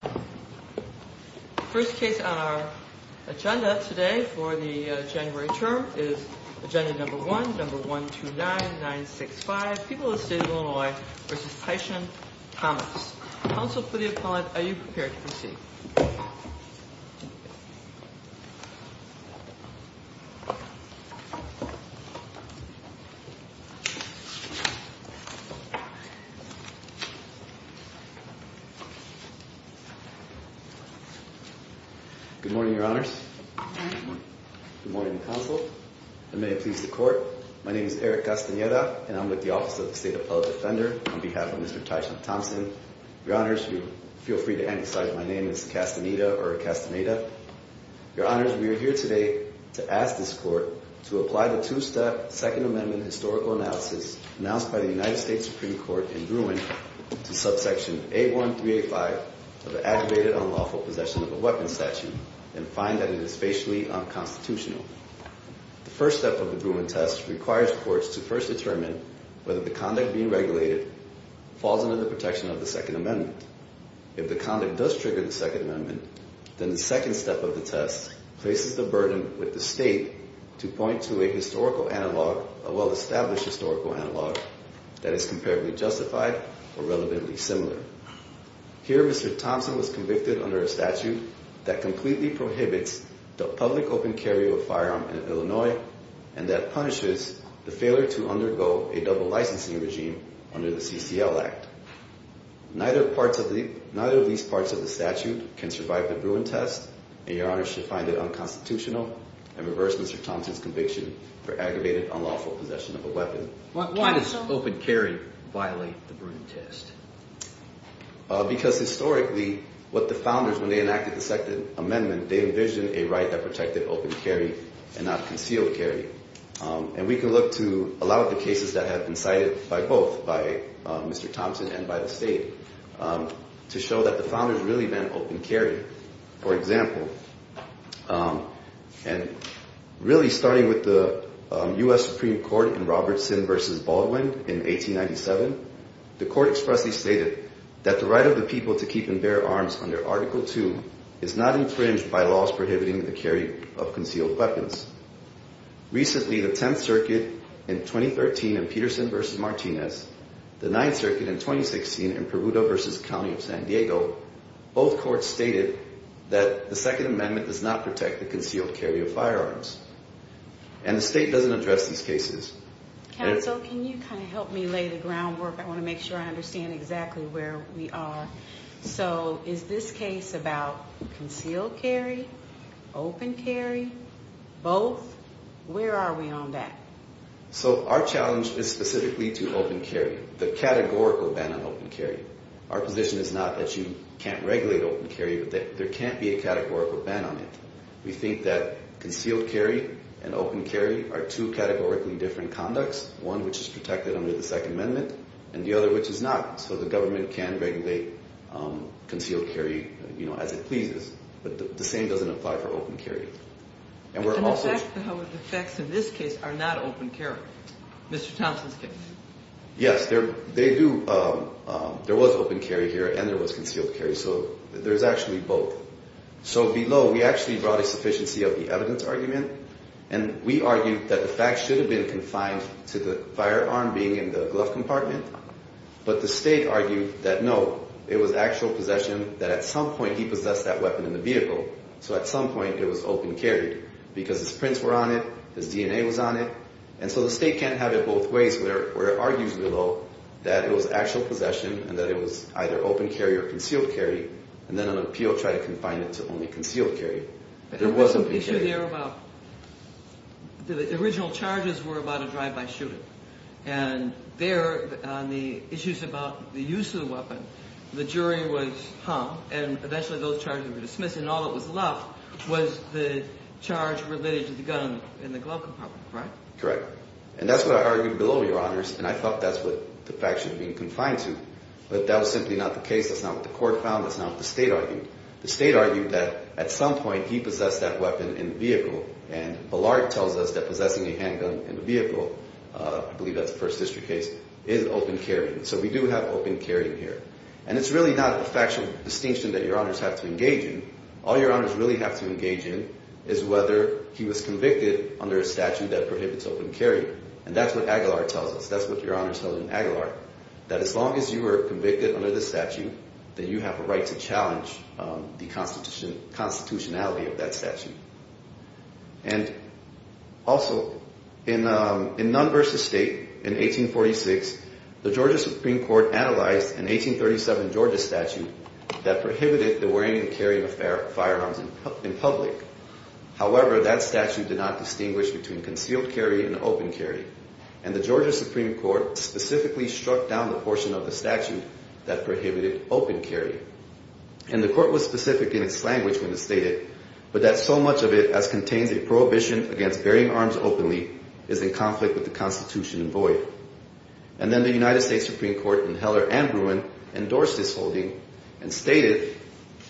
The first case on our agenda today for the January term is agenda number 1, number 129965, People of the State of Illinois v. Tyson Thomas. Counsel for the appellant, are you prepared to proceed? Good morning, your honors. Good morning, counsel. I may please the court. My name is Eric Castaneda, and I'm with the Office of the State Appellate Defender on behalf of Mr. Tyson Thompson. Your honors, feel free to anticipate my name as Castaneda or Castaneda. Your honors, we are here today to ask this court to apply the two-step Second Amendment historical analysis announced by the United States Supreme Court in Bruin to subsection 81385 of the aggravated unlawful possession of a weapon statute and find that it is facially unconstitutional. The first step of the Bruin test requires courts to first determine whether the conduct being regulated falls under the protection of the Second Amendment. If the conduct does trigger the Second Amendment, then the second step of the test places the burden with the state to point to a historical analog, a well-established historical analog, that is comparatively justified or relevantly similar. Here, Mr. Thompson was convicted under a statute that completely prohibits the public open carry of a firearm in Illinois and that punishes the failure to undergo a double licensing regime under the CCL Act. Neither of these parts of the statute can survive the Bruin test, and your honors should find it unconstitutional and reverse Mr. Thompson's conviction for aggravated unlawful possession of a weapon. Why does open carry violate the Bruin test? Because historically, what the founders, when they enacted the Second Amendment, they envisioned a right that protected open carry and not concealed carry. And we can look to a lot of the cases that have been cited by both, by Mr. Thompson and by the state, to show that the founders really meant open carry. For example, and really starting with the U.S. Supreme Court in Robertson v. Baldwin in 1897, the court expressly stated that the right of the people to keep and bear arms under Article II is not infringed by laws prohibiting the carry of concealed weapons. Recently, the Tenth Circuit in 2013 in Peterson v. Martinez, the Ninth Circuit in 2016 in Peruto v. County of San Diego, both courts stated that the Second Amendment does not protect the concealed carry of firearms. And the state doesn't address these cases. Counsel, can you kind of help me lay the groundwork? I want to make sure I understand exactly where we are. So is this case about concealed carry, open carry, both? Where are we on that? So our challenge is specifically to open carry, the categorical ban on open carry. Our position is not that you can't regulate open carry, but that there can't be a categorical ban on it. We think that concealed carry and open carry are two categorically different conducts, one which is protected under the Second Amendment and the other which is not. So the government can regulate concealed carry as it pleases, but the same doesn't apply for open carry. And the facts of this case are not open carry, Mr. Thompson's case. Yes, there was open carry here and there was concealed carry, so there's actually both. So below, we actually brought a sufficiency of the evidence argument, and we argued that the facts should have been confined to the firearm being in the glove compartment. But the state argued that, no, it was actual possession, that at some point he possessed that weapon in the vehicle, so at some point it was open carried because his prints were on it, his DNA was on it. And so the state can't have it both ways where it argues below that it was actual possession and that it was either open carry or concealed carry, and then an appeal tried to confine it to only concealed carry. There was an issue there about the original charges were about a drive-by shooting. And there on the issues about the use of the weapon, the jury was hung, and eventually those charges were dismissed, and all that was left was the charge related to the gun in the glove compartment, right? Correct. And that's what I argued below, Your Honors, and I thought that's what the facts should have been confined to, but that was simply not the case. That's not what the court found. That's not what the state argued. The state argued that at some point he possessed that weapon in the vehicle, and Ballard tells us that possessing a handgun in the vehicle, I believe that's the First District case, is open carry. So we do have open carry here. And it's really not a factual distinction that Your Honors have to engage in. All Your Honors really have to engage in is whether he was convicted under a statute that prohibits open carry, and that's what Aguilar tells us. That's what Your Honors tell us in Aguilar, that as long as you are convicted under the statute, then you have a right to challenge the constitutionality of that statute. And also in Nunn v. State in 1846, the Georgia Supreme Court analyzed an 1837 Georgia statute that prohibited the wearing and carrying of firearms in public. However, that statute did not distinguish between concealed carry and open carry, and the Georgia Supreme Court specifically struck down the portion of the statute that prohibited open carry. And the court was specific in its language when it stated, but that so much of it as contains a prohibition against bearing arms openly is in conflict with the constitution in void. And then the United States Supreme Court in Heller and Bruin endorsed this holding and stated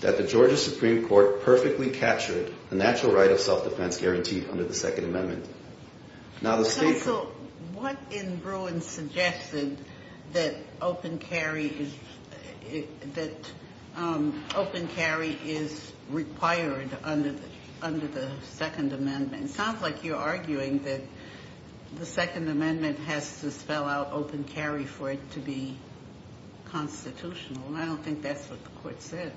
that the Georgia Supreme Court perfectly captured the natural right of self-defense guaranteed under the Second Amendment. Counsel, what in Bruin suggested that open carry is required under the Second Amendment? It sounds like you're arguing that the Second Amendment has to spell out open carry for it to be constitutional, and I don't think that's what the court said.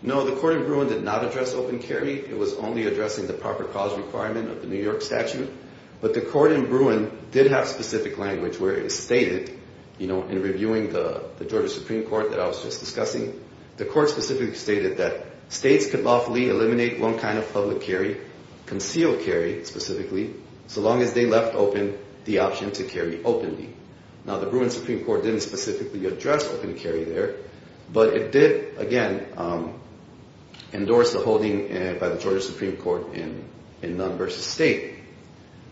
No, the court in Bruin did not address open carry. It was only addressing the proper cause requirement of the New York statute. But the court in Bruin did have specific language where it stated, you know, in reviewing the Georgia Supreme Court that I was just discussing, the court specifically stated that states could lawfully eliminate one kind of public carry, concealed carry specifically, so long as they left open the option to carry openly. Now, the Bruin Supreme Court didn't specifically address open carry there, but it did, again, endorse the holding by the Georgia Supreme Court in Nunn v. State.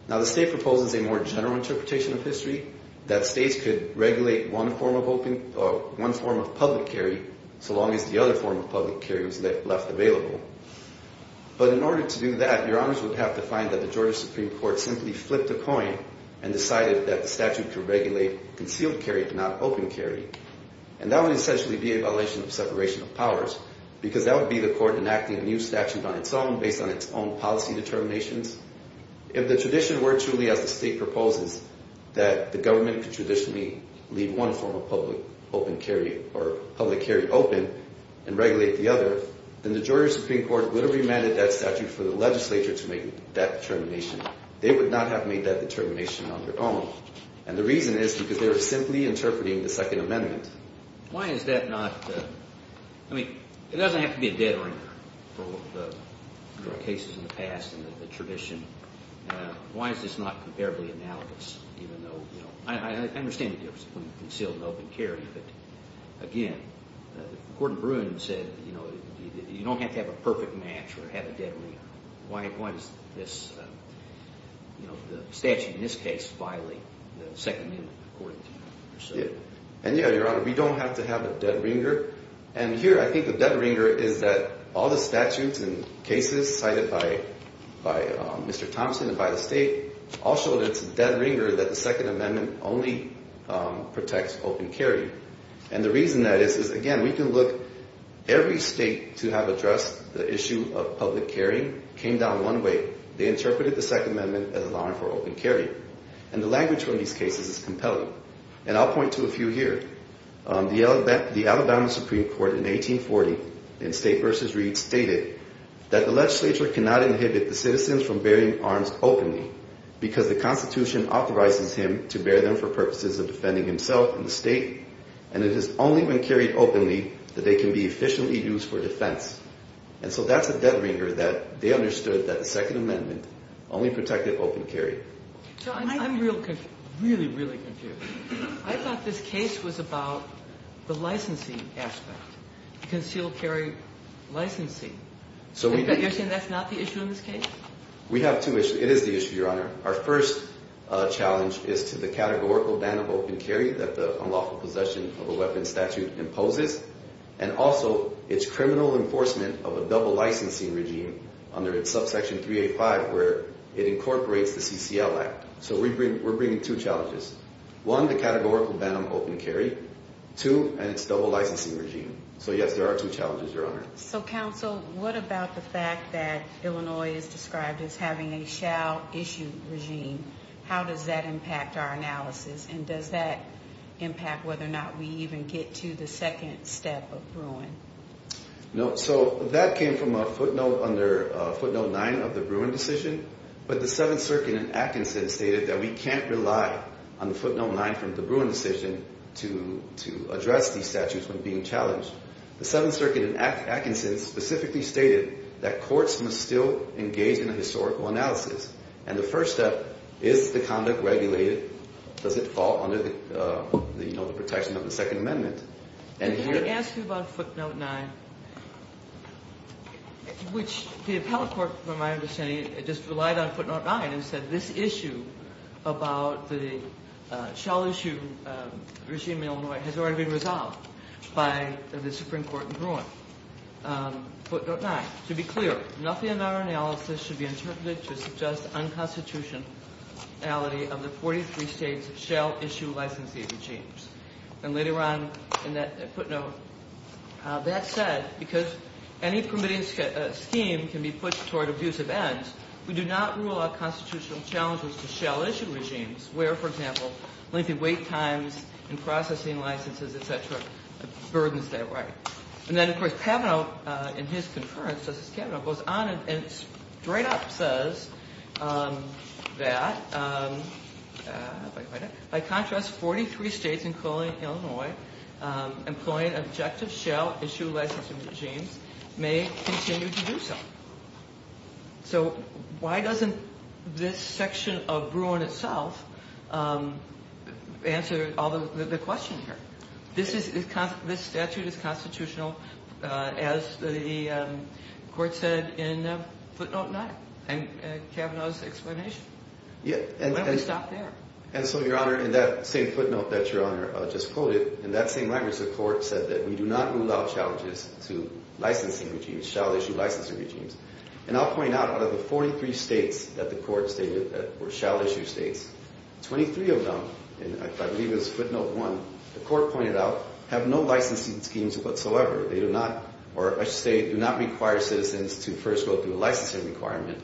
Now, the state proposes a more general interpretation of history that states could regulate one form of public carry so long as the other form of public carry was left available. But in order to do that, your honors would have to find that the Georgia Supreme Court simply flipped a coin and decided that the statute could regulate concealed carry, not open carry. And that would essentially be a violation of separation of powers because that would be the court enacting a new statute on its own based on its own policy determinations. If the tradition were truly, as the state proposes, that the government could traditionally leave one form of public open carry or public carry open and regulate the other, then the Georgia Supreme Court would have remanded that statute for the legislature to make that determination. They would not have made that determination on their own. And the reason is because they were simply interpreting the Second Amendment. Why is that not – I mean, it doesn't have to be a dead ringer for the cases in the past and the tradition. Why is this not comparably analogous even though – I understand the difference between concealed and open carry. But, again, Gordon Bruin said, you know, you don't have to have a perfect match or have a dead ringer. Why is this – you know, the statute in this case violating the Second Amendment according to you? And, yeah, Your Honor, we don't have to have a dead ringer. And here I think the dead ringer is that all the statutes and cases cited by Mr. Thompson and by the state all show that it's a dead ringer that the Second Amendment only protects open carry. And the reason that is is, again, we can look – every state to have addressed the issue of public carry came down one way. They interpreted the Second Amendment as allowing for open carry. And the language from these cases is compelling. And I'll point to a few here. The Alabama Supreme Court in 1840 in State v. Reed stated that the legislature cannot inhibit the citizens from bearing arms openly because the Constitution authorizes him to bear them for purposes of defending himself and the state. And it has only been carried openly that they can be efficiently used for defense. And so that's a dead ringer that they understood that the Second Amendment only protected open carry. So I'm real – really, really confused. I thought this case was about the licensing aspect, concealed carry licensing. So you're saying that's not the issue in this case? We have two issues. It is the issue, Your Honor. Our first challenge is to the categorical ban of open carry that the unlawful possession of a weapons statute imposes and also its criminal enforcement of a double licensing regime under its subsection 385 where it incorporates the CCL Act. So we bring – we're bringing two challenges. One, the categorical ban on open carry. Two, and its double licensing regime. So, yes, there are two challenges, Your Honor. So, counsel, what about the fact that Illinois is described as having a shall issue regime? How does that impact our analysis? And does that impact whether or not we even get to the second step of Bruin? No. So that came from a footnote under footnote 9 of the Bruin decision. But the Seventh Circuit in Atkinson stated that we can't rely on the footnote 9 from the Bruin decision to address these statutes when being challenged. The Seventh Circuit in Atkinson specifically stated that courts must still engage in a historical analysis. And the first step, is the conduct regulated? Does it fall under the protection of the Second Amendment? Let me ask you about footnote 9, which the appellate court, from my understanding, just relied on footnote 9 and said, this issue about the shall issue regime in Illinois has already been resolved by the Supreme Court in Bruin. Footnote 9, to be clear, nothing in our analysis should be interpreted to suggest unconstitutionality of the 43 states' shall issue licensing regimes. And later on in that footnote, that said, because any permitting scheme can be pushed toward abusive ends, we do not rule out constitutional challenges to shall issue regimes where, for example, lengthy wait times and processing licenses, et cetera, burdens that right. And then, of course, Kavanaugh, in his concurrence, Justice Kavanaugh, goes on and straight up says that, by contrast, 43 states, including Illinois, employing objective shall issue licensing regimes may continue to do so. So why doesn't this section of Bruin itself answer the question here? This statute is constitutional, as the court said in footnote 9 and Kavanaugh's explanation. Yeah. Why don't we stop there? And so, Your Honor, in that same footnote that Your Honor just quoted, in that same language, the court said that we do not rule out challenges to licensing regimes, shall issue licensing regimes. And I'll point out, out of the 43 states that the court stated that were shall issue states, 23 of them, and I believe it was footnote 1, the court pointed out have no licensing schemes whatsoever. They do not, or I should say do not require citizens to first go through a licensing requirement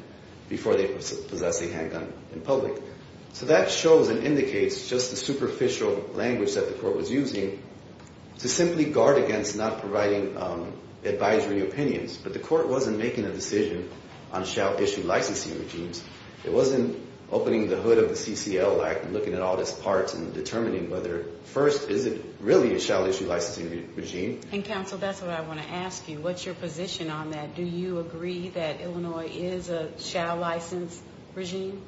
before they possess a handgun in public. So that shows and indicates just the superficial language that the court was using to simply guard against not providing advisory opinions. But the court wasn't making a decision on shall issue licensing regimes. It wasn't opening the hood of the CCL Act and looking at all these parts and determining whether, first, is it really a shall issue licensing regime. And, counsel, that's what I want to ask you. What's your position on that? Do you agree that Illinois is a shall license regime?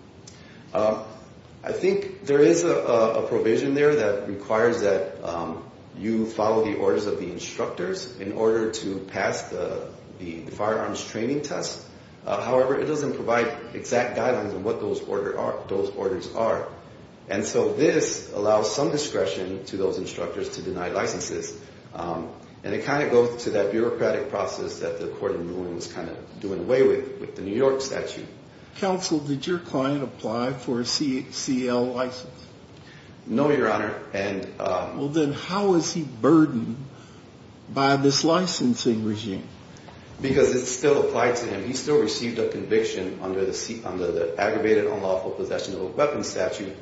I think there is a provision there that requires that you follow the orders of the instructors in order to pass the firearms training test. However, it doesn't provide exact guidelines on what those orders are. And so this allows some discretion to those instructors to deny licenses. And it kind of goes to that bureaucratic process that the court in New England was kind of doing away with, with the New York statute. Counsel, did your client apply for a CCL license? No, Your Honor. Well, then how is he burdened by this licensing regime? Because it's still applied to him. He still received a conviction under the aggravated unlawful possession of a weapon statute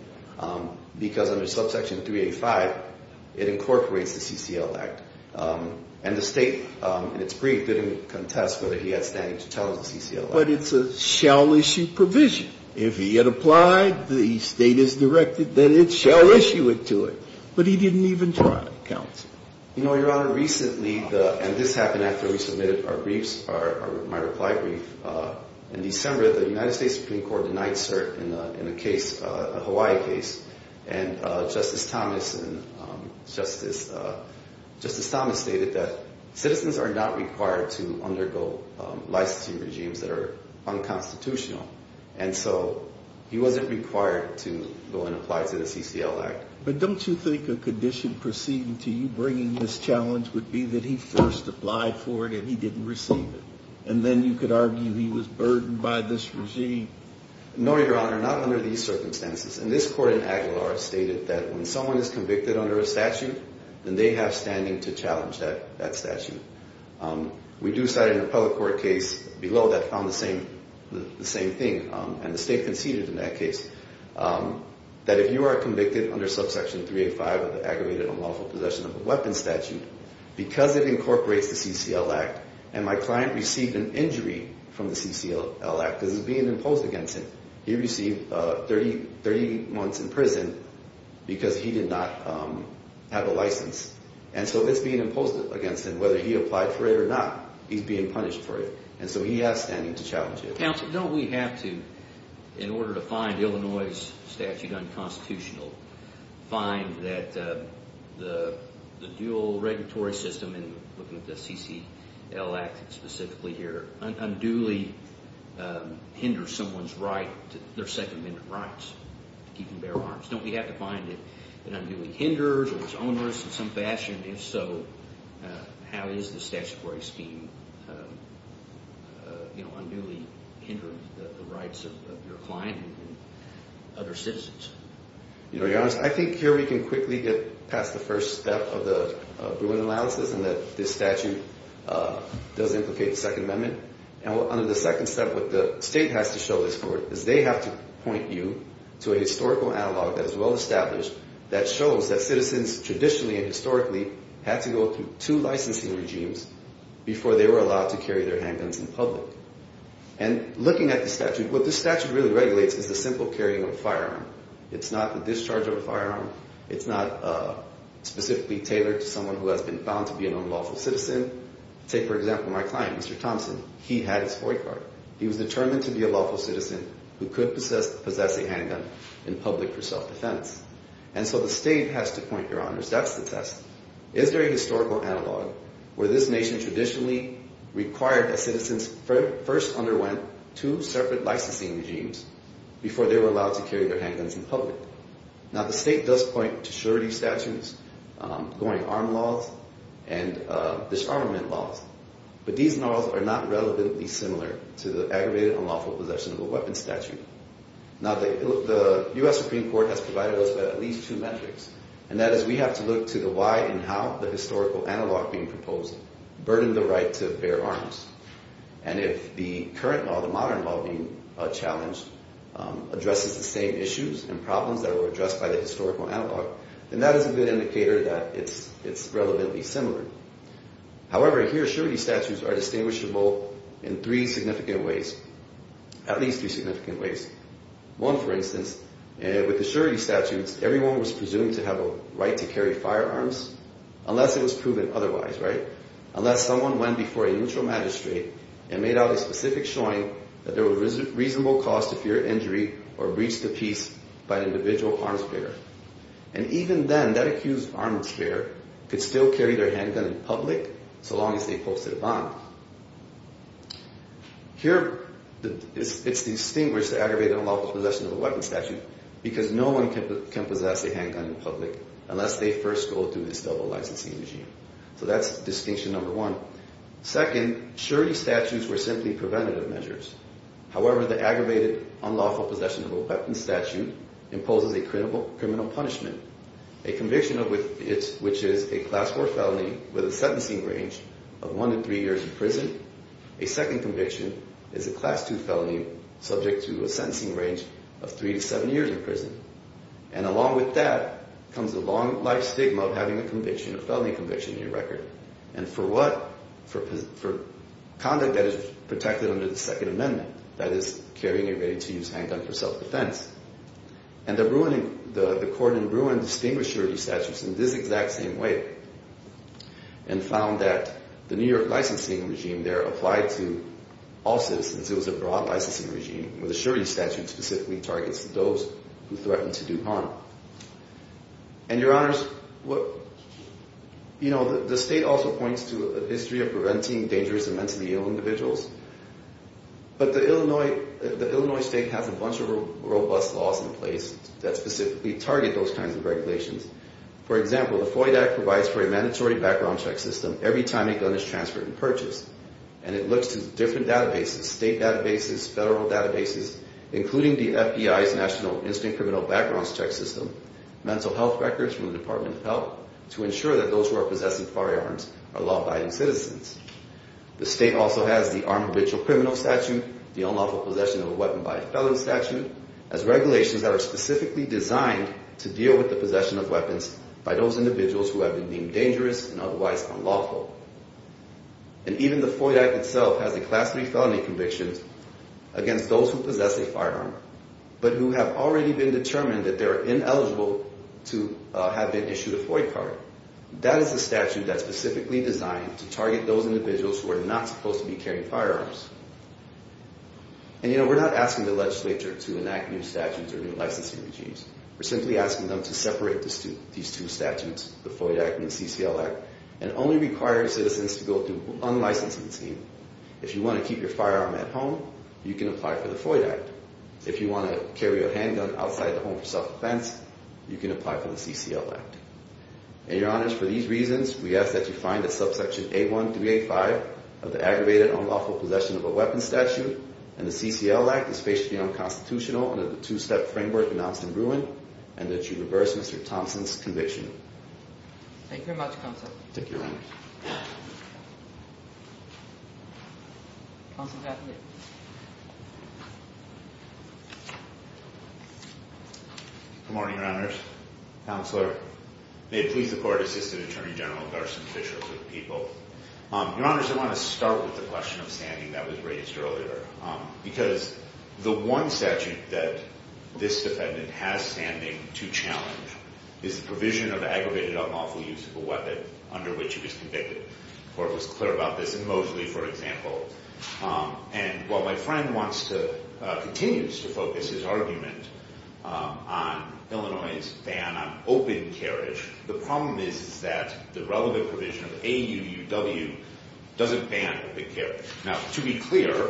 because under subsection 385, it incorporates the CCL Act. And the State, in its brief, didn't contest whether he had standing to tell the CCL Act. But it's a shall issue provision. If he had applied, the State has directed that it shall issue it to him. But he didn't even try, counsel. You know, Your Honor, recently, and this happened after we submitted our briefs, my reply brief, in December, the United States Supreme Court denied cert in a case, a Hawaii case. And Justice Thomas stated that citizens are not required to undergo licensing regimes that are unconstitutional. And so he wasn't required to go and apply to the CCL Act. But don't you think a condition proceeding to you bringing this challenge would be that he first applied for it and he didn't receive it? And then you could argue he was burdened by this regime. No, Your Honor, not under these circumstances. And this court in Aguilar stated that when someone is convicted under a statute, then they have standing to challenge that statute. We do cite an appellate court case below that found the same thing. And the State conceded in that case that if you are convicted under subsection 385 of the aggravated unlawful possession of a weapon statute, because it incorporates the CCL Act, and my client received an injury from the CCL Act because it's being imposed against him, he received 30 months in prison because he did not have a license. And so it's being imposed against him. Whether he applied for it or not, he's being punished for it. And so he has standing to challenge it. Counsel, don't we have to, in order to find Illinois' statute unconstitutional, find that the dual regulatory system in looking at the CCL Act specifically here unduly hinders someone's right, their Second Amendment rights to keep and bear arms? Don't we have to find it that unduly hinders or is onerous in some fashion? And if so, how is the statutory scheme unduly hindering the rights of your client and other citizens? You know, Your Honor, I think here we can quickly get past the first step of the Bruin analysis and that this statute does implicate the Second Amendment. And under the second step, what the State has to show this court is they have to point you to a historical analog that is well established that shows that citizens traditionally and historically had to go through two licensing regimes before they were allowed to carry their handguns in public. And looking at the statute, what the statute really regulates is the simple carrying of a firearm. It's not the discharge of a firearm. It's not specifically tailored to someone who has been found to be an unlawful citizen. Say, for example, my client, Mr. Thompson, he had his boy card. He was determined to be a lawful citizen who could possess a handgun in public for self-defense. And so the State has to point, Your Honors, that's the test. Is there a historical analog where this nation traditionally required that citizens first underwent two separate licensing regimes before they were allowed to carry their handguns in public? Now, the State does point to surety statutes, going-to-arm laws, and disarmament laws. But these laws are not relevantly similar to the aggravated unlawful possession of a weapon statute. Now, the U.S. Supreme Court has provided us with at least two metrics, and that is we have to look to the why and how the historical analog being proposed burdened the right to bear arms. And if the current law, the modern law being challenged, addresses the same issues and problems that were addressed by the historical analog, then that is a good indicator that it's relevantly similar. However, here, surety statutes are distinguishable in three significant ways. At least three significant ways. One, for instance, with the surety statutes, everyone was presumed to have a right to carry firearms unless it was proven otherwise, right? Unless someone went before a neutral magistrate and made out a specific showing that there was reasonable cause to fear injury or breach the peace by an individual arms bearer. And even then, that accused arms bearer could still carry their handgun in public so long as they posted a bond. Here, it's distinguished the aggravated unlawful possession of a weapon statute because no one can possess a handgun in public unless they first go through this double licensing regime. So that's distinction number one. Second, surety statutes were simply preventative measures. However, the aggravated unlawful possession of a weapon statute imposes a criminal punishment, a conviction of which is a class four felony with a sentencing range of one to three years in prison. A second conviction is a class two felony subject to a sentencing range of three to seven years in prison. And along with that comes a long life stigma of having a conviction, a felony conviction in your record. And for what? For conduct that is protected under the Second Amendment, that is carrying a ready-to-use handgun for self-defense. And the court in Bruin distinguished surety statutes in this exact same way and found that the New York licensing regime there applied to all citizens. It was a broad licensing regime where the surety statute specifically targets those who threaten to do harm. And, Your Honors, you know, the state also points to a history of preventing dangerous and mentally ill individuals. But the Illinois state has a bunch of robust laws in place that specifically target those kinds of regulations. For example, the FOIA Act provides for a mandatory background check system every time a gun is transferred and purchased. And it looks to different databases, state databases, federal databases, including the FBI's National Instant Criminal Backgrounds Check System, mental health records from the Department of Health, to ensure that those who are possessing firearms are law-abiding citizens. The state also has the Armed Ritual Criminal Statute, the Unlawful Possession of a Weapon by Felony Statute, as regulations that are specifically designed to deal with the possession of weapons by those individuals who have been deemed dangerous and otherwise unlawful. And even the FOIA Act itself has a Class III felony conviction against those who possess a firearm, but who have already been determined that they are ineligible to have been issued a FOIA card. That is a statute that's specifically designed to target those individuals who are not supposed to be carrying firearms. And, you know, we're not asking the legislature to enact new statutes or new licensing regimes. We're simply asking them to separate these two statutes, the FOIA Act and the CCL Act, and only require citizens to go through an unlicensing scheme. If you want to keep your firearm at home, you can apply for the FOIA Act. If you want to carry a handgun outside the home for self-defense, you can apply for the CCL Act. And, Your Honors, for these reasons, we ask that you find that subsection A1385 of the Aggravated Unlawful Possession of a Weapon Statute and the CCL Act is spatially unconstitutional under the two-step framework announced in Bruin, and that you reverse Mr. Thompson's conviction. Thank you very much, Counsel. Thank you, Your Honors. Good morning, Your Honors. Counselor, may it please the Court, Assistant Attorney General Garson Fisher of the people. Your Honors, I want to start with the question of standing that was raised earlier. Because the one statute that this defendant has standing to challenge is the provision of aggravated unlawful use of a weapon under which he was convicted. The Court was clear about this in Mosley, for example. And while my friend continues to focus his argument on Illinois' ban on open carriage, the problem is that the relevant provision of AUUW doesn't ban open carriage. Now, to be clear,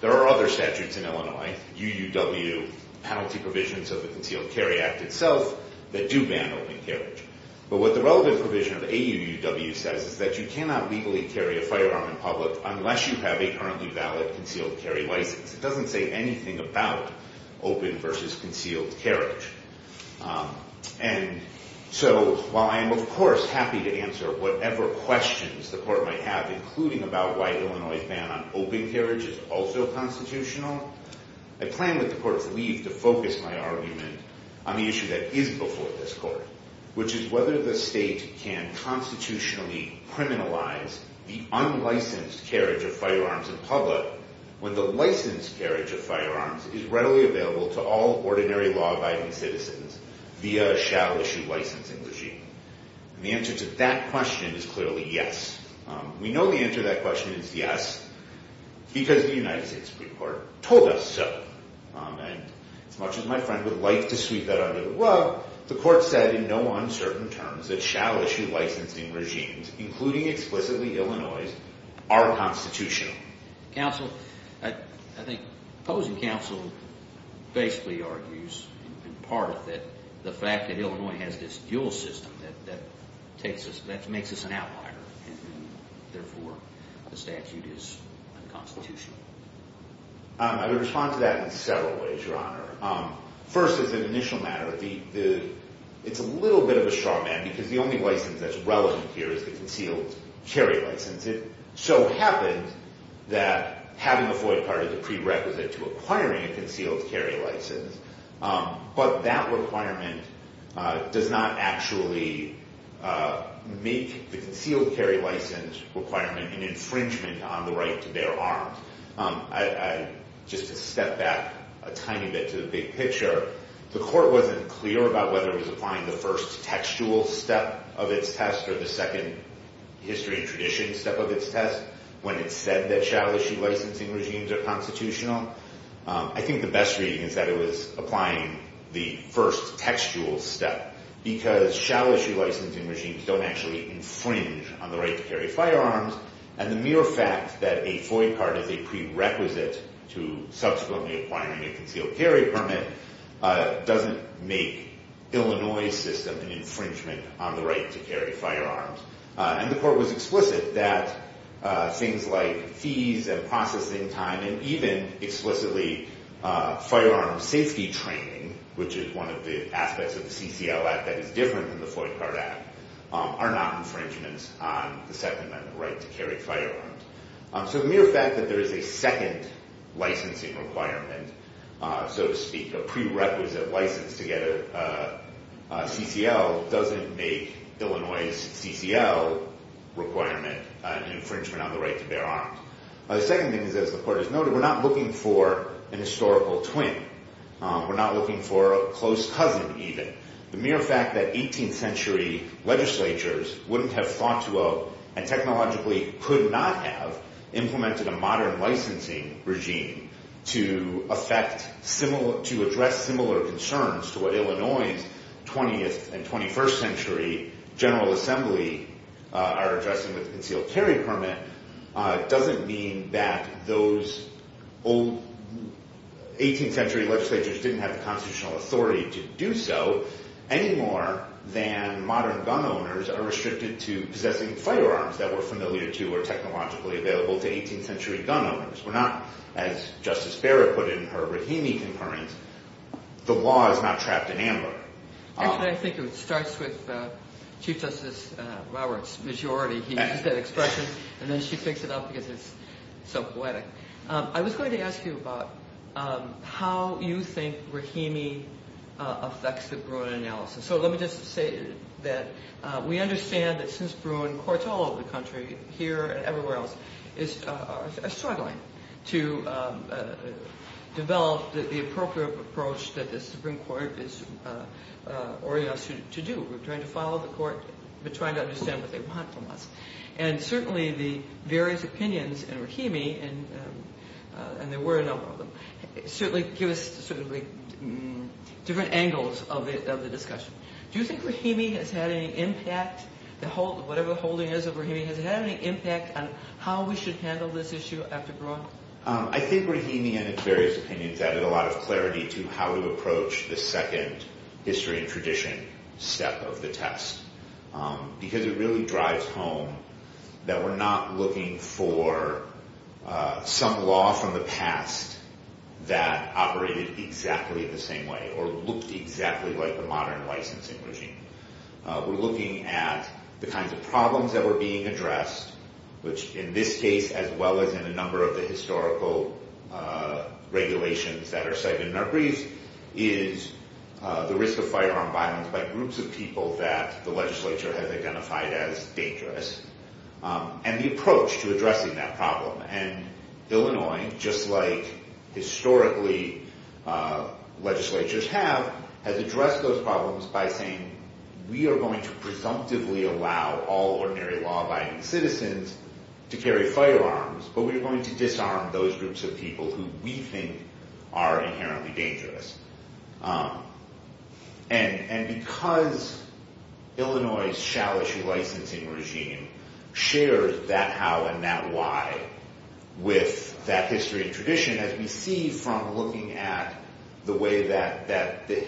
there are other statutes in Illinois, UUW, penalty provisions of the Concealed Carry Act itself, that do ban open carriage. But what the relevant provision of AUUW says is that you cannot legally carry a firearm in public unless you have a currently valid concealed carry license. It doesn't say anything about open versus concealed carriage. And so while I am, of course, happy to answer whatever questions the Court might have, including about why Illinois' ban on open carriage is also constitutional, I plan with the Court's leave to focus my argument on the issue that is before this Court, which is whether the state can constitutionally criminalize the unlicensed carriage of firearms in public when the licensed carriage of firearms is readily available to all ordinary law-abiding citizens via a shall-issue licensing regime. And the answer to that question is clearly yes. We know the answer to that question is yes because the United States Supreme Court told us so. And as much as my friend would like to sweep that under the rug, the Court said in no uncertain terms that shall-issue licensing regimes, including explicitly Illinois', are constitutional. Counsel, I think opposing counsel basically argues in part of it that the fact that Illinois has this dual system that makes us an outlier and therefore the statute is unconstitutional. I would respond to that in several ways, Your Honor. First, as an initial matter, it's a little bit of a straw man because the only license that's relevant here is the concealed carry license. It so happens that having a FOIA card is a prerequisite to acquiring a concealed carry license, but that requirement does not actually make the concealed carry license requirement an infringement on the right to bear arms. Just to step back a tiny bit to the big picture, the Court wasn't clear about whether it was applying the first textual step of its test or the second history and tradition step of its test when it said that shall-issue licensing regimes are constitutional. I think the best reading is that it was applying the first textual step because shall-issue licensing regimes don't actually infringe on the right to carry firearms and the mere fact that a FOIA card is a prerequisite to subsequently acquiring a concealed carry permit doesn't make Illinois' system an infringement on the right to carry firearms. And the Court was explicit that things like fees and processing time and even explicitly firearm safety training, which is one of the aspects of the CCL Act that is different than the FOIA card Act, are not infringements on the Second Amendment right to carry firearms. So the mere fact that there is a second licensing requirement, so to speak, a prerequisite license to get a CCL doesn't make Illinois' CCL requirement an infringement on the right to bear arms. The second thing is, as the Court has noted, we're not looking for an historical twin. We're not looking for a close cousin, even. The mere fact that 18th century legislatures wouldn't have thought to, and technologically could not have, implemented a modern licensing regime to address similar concerns to what Illinois' 20th and 21st century General Assembly are addressing with the concealed carry permit doesn't mean that those old 18th century legislatures didn't have the constitutional authority to do so any more than modern gun owners are restricted to possessing firearms that were familiar to or technologically available to 18th century gun owners. We're not, as Justice Barrett put it in her Rahimi concurrence, the law is not trapped in amber. Actually, I think it starts with Chief Justice Lauer's majority. He used that expression, and then she picks it up because it's so poetic. I was going to ask you about how you think Rahimi affects the Bruin analysis. So let me just say that we understand that since Bruin courts all over the country, here and everywhere else, are struggling to develop the appropriate approach that the Supreme Court is ordering us to do. We're trying to follow the court, but trying to understand what they want from us. And certainly the various opinions in Rahimi, and there were a number of them, certainly give us different angles of the discussion. Do you think Rahimi has had any impact, whatever the holding is of Rahimi, has it had any impact on how we should handle this issue after Bruin? I think Rahimi and its various opinions added a lot of clarity to how to approach the second history and tradition step of the test, because it really drives home that we're not looking for some law from the past that operated exactly the same way or looked exactly like the modern licensing regime. We're looking at the kinds of problems that were being addressed, which in this case, as well as in a number of the historical regulations that are cited in our briefs, is the risk of firearm violence by groups of people that the legislature has identified as dangerous, and the approach to addressing that problem. And Illinois, just like historically legislatures have, has addressed those problems by saying we are going to presumptively allow all ordinary law-abiding citizens to carry firearms, but we're going to disarm those groups of people who we think are inherently dangerous. And because Illinois' shall-issue licensing regime shares that how and that why with that history and tradition, as we see from looking at the way that the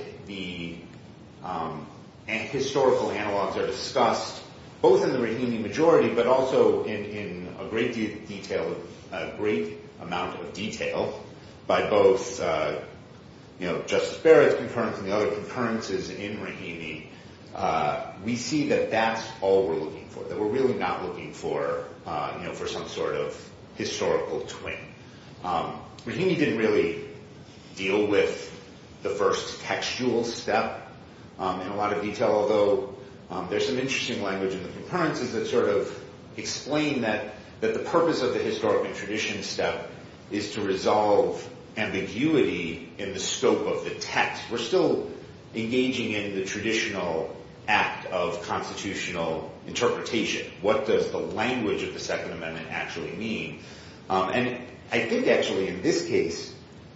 historical analogs are discussed, both in the Rahimi majority, but also in a great amount of detail by both Justice Barrett's concurrence and the other concurrences in Rahimi, we see that that's all we're looking for, that we're really not looking for some sort of historical twin. Rahimi didn't really deal with the first textual step in a lot of detail, although there's some interesting language in the concurrences that sort of explain that the purpose of the historical tradition step is to resolve ambiguity in the scope of the text. We're still engaging in the traditional act of constitutional interpretation. What does the language of the Second Amendment actually mean? And I think, actually, in this case,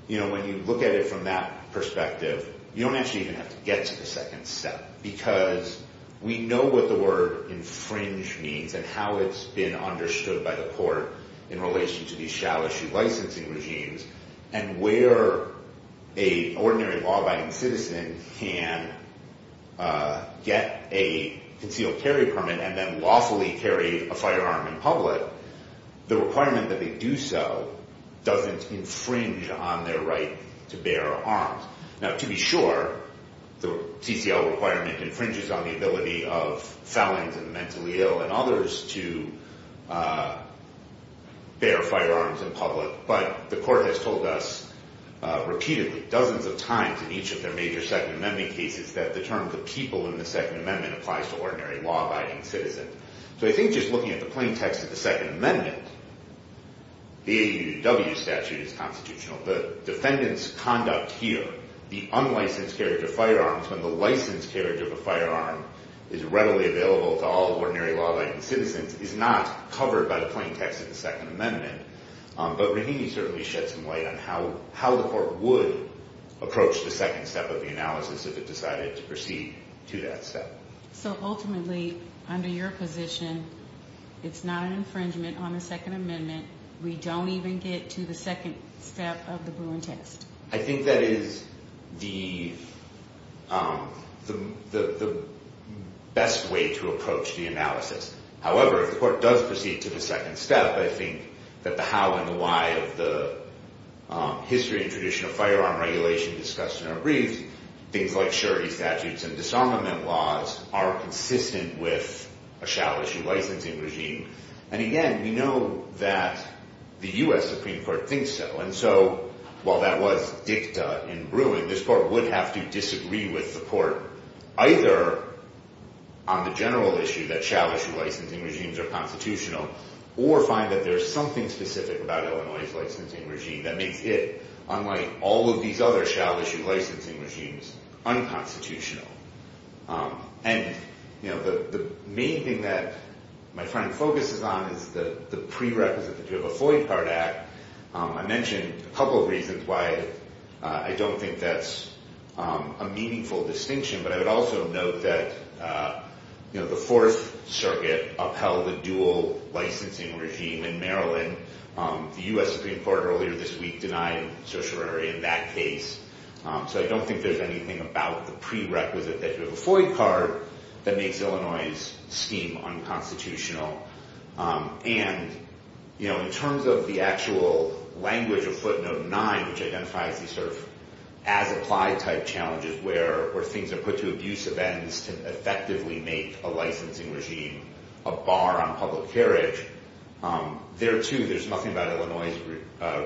when you look at it from that perspective, you don't actually even have to get to the second step, because we know what the word infringe means and how it's been understood by the court in relation to these shall-issue licensing regimes. And where a ordinary law-abiding citizen can get a concealed carry permit and then lawfully carry a firearm in public, the requirement that they do so doesn't infringe on their right to bear arms. Now, to be sure, the CCL requirement infringes on the ability of felons and mentally ill and others to bear firearms in public, but the court has told us repeatedly, dozens of times in each of their major Second Amendment cases, that the term the people in the Second Amendment applies to ordinary law-abiding citizens. So I think just looking at the plain text of the Second Amendment, the AUDW statute is constitutional. The defendant's conduct here, the unlicensed carriage of firearms, when the licensed carriage of a firearm is readily available to all ordinary law-abiding citizens, is not covered by the plain text of the Second Amendment. But Rahimi certainly shed some light on how the court would approach the second step of the analysis if it decided to proceed to that step. So ultimately, under your position, it's not an infringement on the Second Amendment. We don't even get to the second step of the Bruin test. I think that is the best way to approach the analysis. However, if the court does proceed to the second step, I think that the how and the why of the history and tradition of firearm regulation discussed in our briefs, things like surety statutes and disarmament laws, are consistent with a shall-issue licensing regime. And again, we know that the U.S. Supreme Court thinks so. And so while that was dicta in Bruin, this court would have to disagree with the court, either on the general issue that shall-issue licensing regimes are constitutional, or find that there's something specific about Illinois' licensing regime that makes it, unlike all of these other shall-issue licensing regimes, unconstitutional. And the main thing that my finding focuses on is the prerequisite that you have a Floyd card act. I mentioned a couple of reasons why I don't think that's a meaningful distinction, but I would also note that the Fourth Circuit upheld the dual licensing regime in Maryland. The U.S. Supreme Court earlier this week denied certiorari in that case. So I don't think there's anything about the prerequisite that you have a Floyd card that makes Illinois' scheme unconstitutional. And, you know, in terms of the actual language of footnote 9, which identifies these sort of as-applied type challenges where things are put to abusive ends to effectively make a licensing regime a bar on public carriage, there, too, there's nothing about Illinois'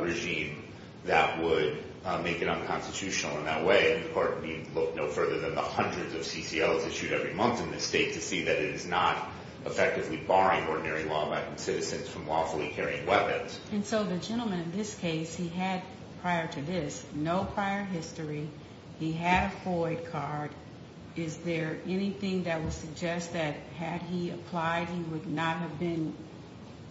regime that would make it unconstitutional in that way. And the court would need no further than the hundreds of CCLs issued every month in this state to see that it is not effectively barring ordinary law-abiding citizens from lawfully carrying weapons. And so the gentleman in this case, he had, prior to this, no prior history. He had a Floyd card. Is there anything that would suggest that had he applied, he would not have been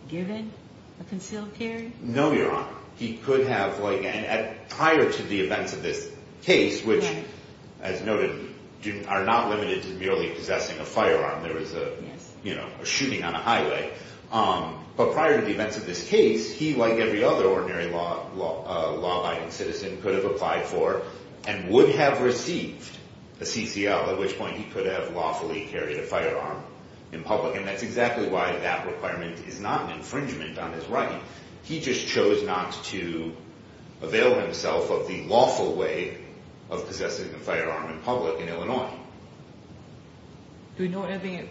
given a concealed carry? No, Your Honor. He could have, like, prior to the events of this case, which, as noted, are not limited to merely possessing a firearm. There was a, you know, a shooting on a highway. But prior to the events of this case, he, like every other ordinary law-abiding citizen, could have applied for and would have received a CCL, at which point he could have lawfully carried a firearm in public. And that's exactly why that requirement is not an infringement on his right. He just chose not to avail himself of the lawful way of possessing a firearm in public in Illinois. Do we know anything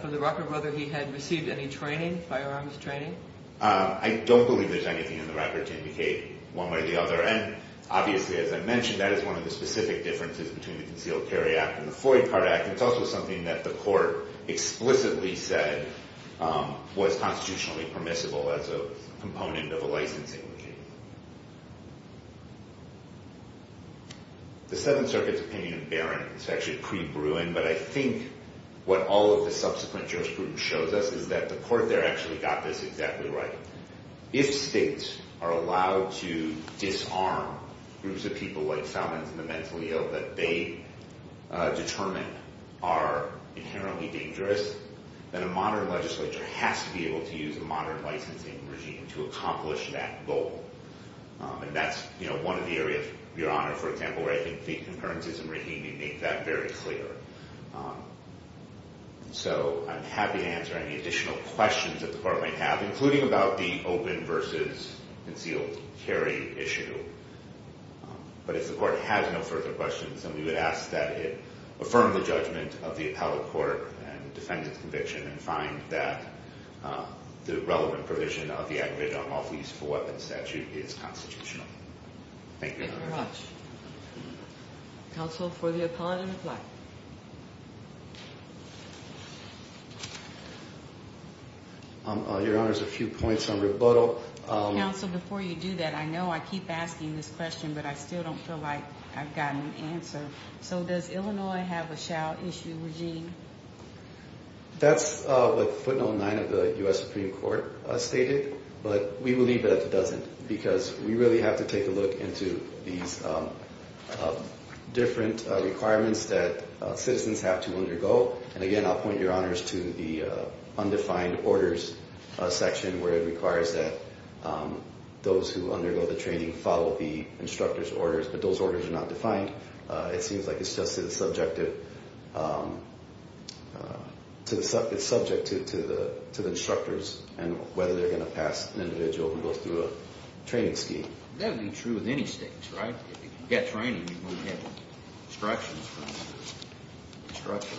from the record whether he had received any training, firearms training? I don't believe there's anything in the record to indicate one way or the other. And obviously, as I mentioned, that is one of the specific differences between the Concealed Carry Act and the Floyd Card Act. It's also something that the court explicitly said was constitutionally permissible as a component of a licensing case. The Seventh Circuit's opinion of Barron is actually pre-Bruin, but I think what all of the subsequent jurisprudence shows us is that the court there actually got this exactly right. If states are allowed to disarm groups of people like felons and the mentally ill that they determine are inherently dangerous, then a modern legislature has to be able to use a modern licensing regime to accomplish that goal. And that's, you know, one of the areas, Your Honor, for example, where I think the concurrences in Rahimi make that very clear. So I'm happy to answer any additional questions that the court might have, including about the open versus concealed carry issue. But if the court has no further questions, then we would ask that it affirm the judgment of the appellate court and defend its conviction and find that the relevant provision of the aggravated unlawful use of a weapon statute is constitutional. Thank you, Your Honor. Thank you very much. Counsel for the appellate in reply. Your Honor, there's a few points on rebuttal. Counsel, before you do that, I know I keep asking this question, but I still don't feel like I've gotten an answer. So does Illinois have a shall issue regime? That's what footnote nine of the U.S. Supreme Court stated, but we believe that it doesn't, because we really have to take a look into these different requirements that citizens have to undergo. And, again, I'll point Your Honors to the undefined orders section, where it requires that those who undergo the training follow the instructor's orders, but those orders are not defined. It seems like it's subject to the instructors and whether they're going to pass an individual who goes through a training scheme. That would be true of any state, right? If you get training, you won't get instructions from the instructor.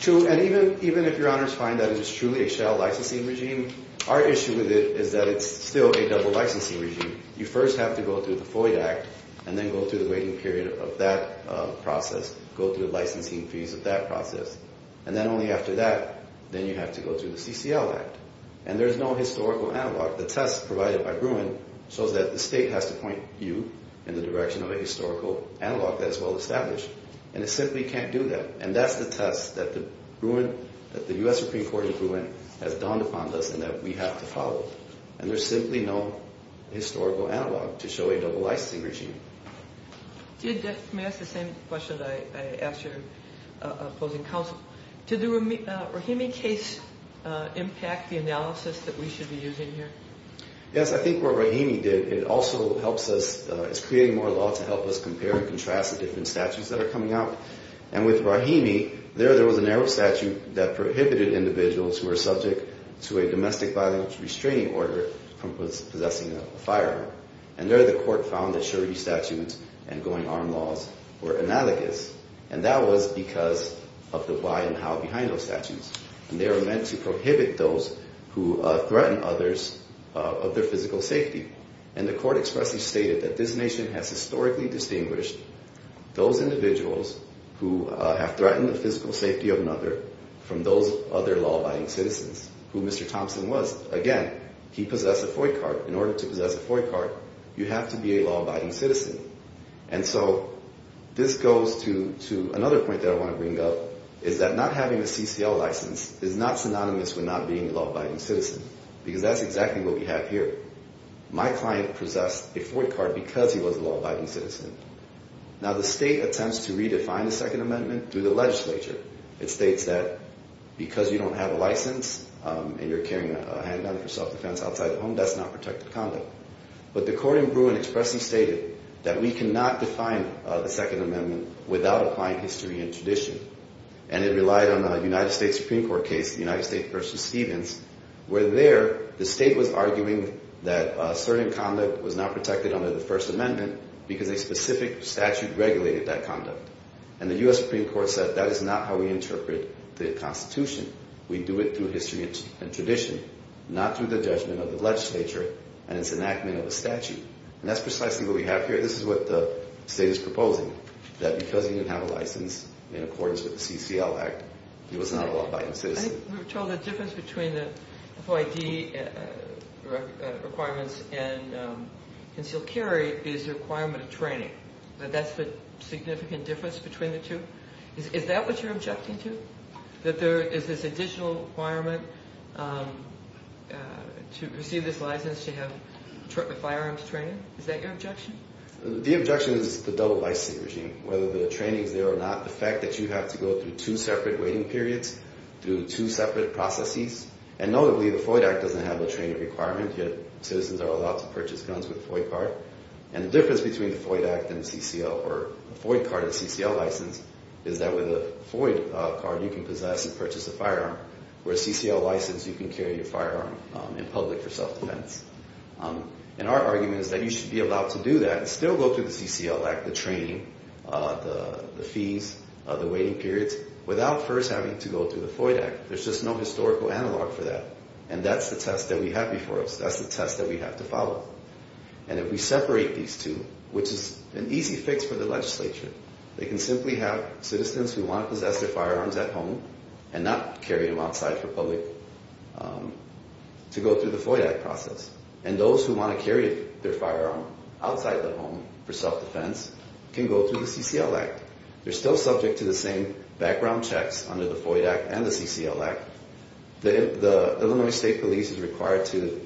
True, and even if Your Honors find that it is truly a shall licensing regime, our issue with it is that it's still a double licensing regime. You first have to go through the FOIA Act and then go through the waiting period of that process, go through the licensing fees of that process, and then only after that, then you have to go through the CCL Act. And there's no historical analog. The test provided by Bruin shows that the state has to point you in the direction of a historical analog that is well-established, and it simply can't do that, and that's the test that the U.S. Supreme Court in Bruin has dawned upon us and that we have to follow. And there's simply no historical analog to show a double licensing regime. Let me ask the same question that I asked your opposing counsel. Did the Rahimi case impact the analysis that we should be using here? Yes, I think what Rahimi did, it also helps us. It's creating more law to help us compare and contrast the different statutes that are coming out. And with Rahimi, there there was a narrow statute that prohibited individuals who were subject to a domestic violence restraining order from possessing a firearm. And there the court found that Shuri statutes and going-armed laws were analogous, and that was because of the why and how behind those statutes. And they were meant to prohibit those who threatened others of their physical safety. And the court expressly stated that this nation has historically distinguished those individuals who have threatened the physical safety of another from those other law-abiding citizens, who Mr. Thompson was. Again, he possessed a FOIC card. In order to possess a FOIC card, you have to be a law-abiding citizen. And so this goes to another point that I want to bring up is that not having a CCL license is not synonymous with not being a law-abiding citizen because that's exactly what we have here. My client possessed a FOIC card because he was a law-abiding citizen. Now, the state attempts to redefine the Second Amendment through the legislature. It states that because you don't have a license and you're carrying a handgun for self-defense outside the home, that's not protected conduct. But the court in Bruin expressly stated that we cannot define the Second Amendment without applying history and tradition. And it relied on a United States Supreme Court case, the United States v. Stevens, where there the state was arguing that certain conduct was not protected under the First Amendment because a specific statute regulated that conduct. And the U.S. Supreme Court said that is not how we interpret the Constitution. We do it through history and tradition, not through the judgment of the legislature and its enactment of a statute. And that's precisely what we have here. This is what the state is proposing, that because he didn't have a license in accordance with the CCL Act, he was not a law-abiding citizen. I think we were told the difference between the FOID requirements and concealed carry is the requirement of training, that that's the significant difference between the two. Is that what you're objecting to, that there is this additional requirement to receive this license to have firearms training? Is that your objection? The objection is the double licensing regime, whether the training is there or not, the fact that you have to go through two separate waiting periods, through two separate processes. And notably, the FOID Act doesn't have a training requirement, yet citizens are allowed to purchase guns with a FOID card. And the difference between the FOID Act and CCL or a FOID card and CCL license is that with a FOID card you can possess and purchase a firearm, whereas CCL license you can carry your firearm in public for self-defense. And our argument is that you should be allowed to do that and still go through the CCL Act, the training, the fees, the waiting periods, without first having to go through the FOID Act. There's just no historical analog for that. And that's the test that we have before us. That's the test that we have to follow. And if we separate these two, which is an easy fix for the legislature, they can simply have citizens who want to possess their firearms at home and not carry them outside for public to go through the FOID Act process. And those who want to carry their firearm outside the home for self-defense can go through the CCL Act. They're still subject to the same background checks under the FOID Act and the CCL Act. The Illinois State Police is required to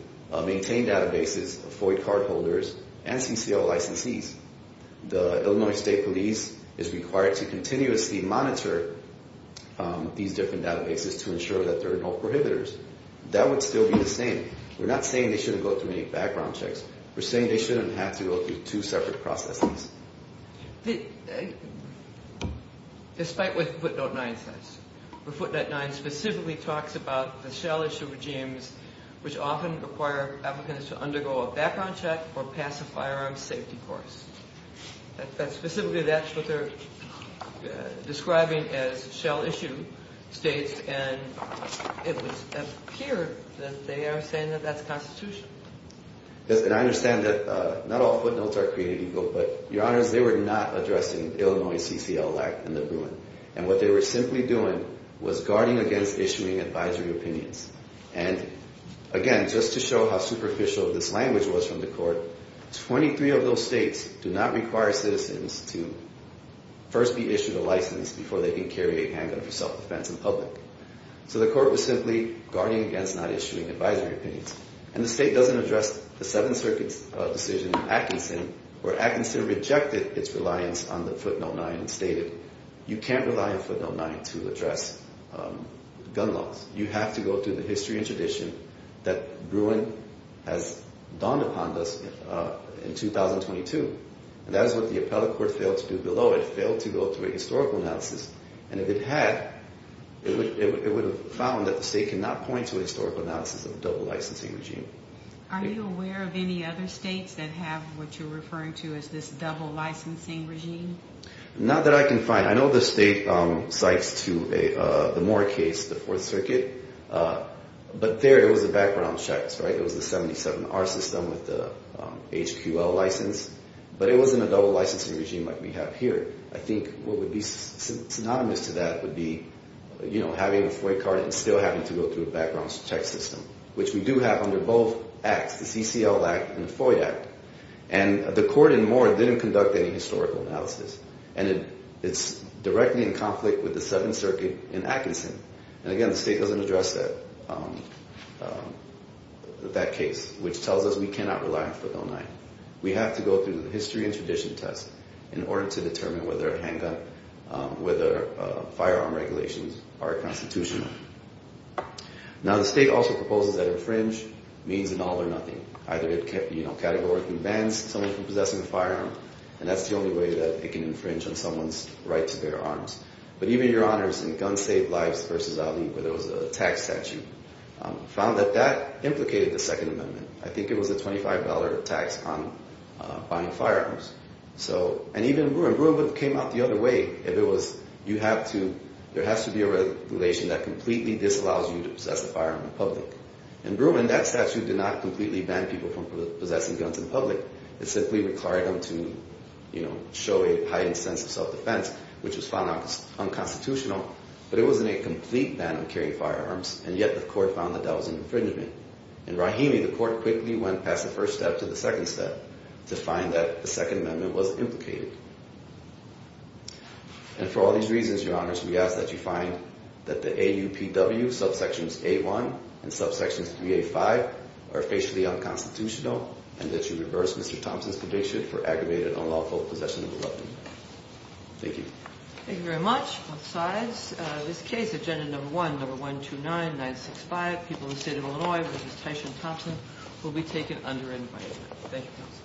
maintain databases, FOID card holders, and CCL licensees. The Illinois State Police is required to continuously monitor these different databases to ensure that there are no prohibitors. That would still be the same. We're not saying they shouldn't go through any background checks. We're saying they shouldn't have to go through two separate processes. Despite what Footnote 9 says. Footnote 9 specifically talks about the shell issue regimes, which often require applicants to undergo a background check or pass a firearms safety course. Specifically, that's what they're describing as shell issue states. And it would appear that they are saying that that's the Constitution. And I understand that not all footnotes are created equal, but, Your Honors, they were not addressing the Illinois CCL Act and the Bruin. And what they were simply doing was guarding against issuing advisory opinions. And, again, just to show how superficial this language was from the court, 23 of those states do not require citizens to first be issued a license before they can carry a handgun for self-defense in public. So the court was simply guarding against not issuing advisory opinions. And the state doesn't address the Seventh Circuit's decision in Atkinson, where Atkinson rejected its reliance on the Footnote 9 and stated, You can't rely on Footnote 9 to address gun laws. You have to go through the history and tradition that Bruin has dawned upon us in 2022. And that is what the appellate court failed to do below. It failed to go through a historical analysis. And if it had, it would have found that the state cannot point to a historical analysis of a double licensing regime. Are you aware of any other states that have what you're referring to as this double licensing regime? Not that I can find. I know the state cites to the Moore case, the Fourth Circuit. But there it was the background checks, right? It was the 77-R system with the HQL license. But it wasn't a double licensing regime like we have here. I think what would be synonymous to that would be having a FOIA card and still having to go through a background check system, which we do have under both acts, the CCL Act and the FOIA Act. And the court in Moore didn't conduct any historical analysis. And it's directly in conflict with the Seventh Circuit in Atkinson. And again, the state doesn't address that case, which tells us we cannot rely on Footnote 9. We have to go through the history and tradition test in order to determine whether a handgun, whether firearm regulations are constitutional. Now, the state also proposes that infringe means an all or nothing. Either it categorically bans someone from possessing a firearm, and that's the only way that it can infringe on someone's right to bear arms. But even your honors in Gun Saved Lives v. Ali, where there was a tax statute, found that that implicated the Second Amendment. I think it was a $25 tax on buying firearms. And even Breumann, Breumann came out the other way. There has to be a regulation that completely disallows you to possess a firearm in public. In Breumann, that statute did not completely ban people from possessing guns in public. It simply required them to show a heightened sense of self-defense, which was found unconstitutional. But it wasn't a complete ban on carrying firearms, and yet the court found that that was an infringement. In Rahimi, the court quickly went past the first step to the second step to find that the Second Amendment was implicated. And for all these reasons, your honors, we ask that you find that the AUPW subsections A1 and subsections 3A5 are facially unconstitutional, and that you reverse Mr. Thompson's conviction for aggravated unlawful possession of a weapon. Thank you. Thank you very much. Both sides. This case, Agenda Number 1, Number 129-965, People of the State of Illinois v. Tyson Thompson, will be taken under invitement. Thank you.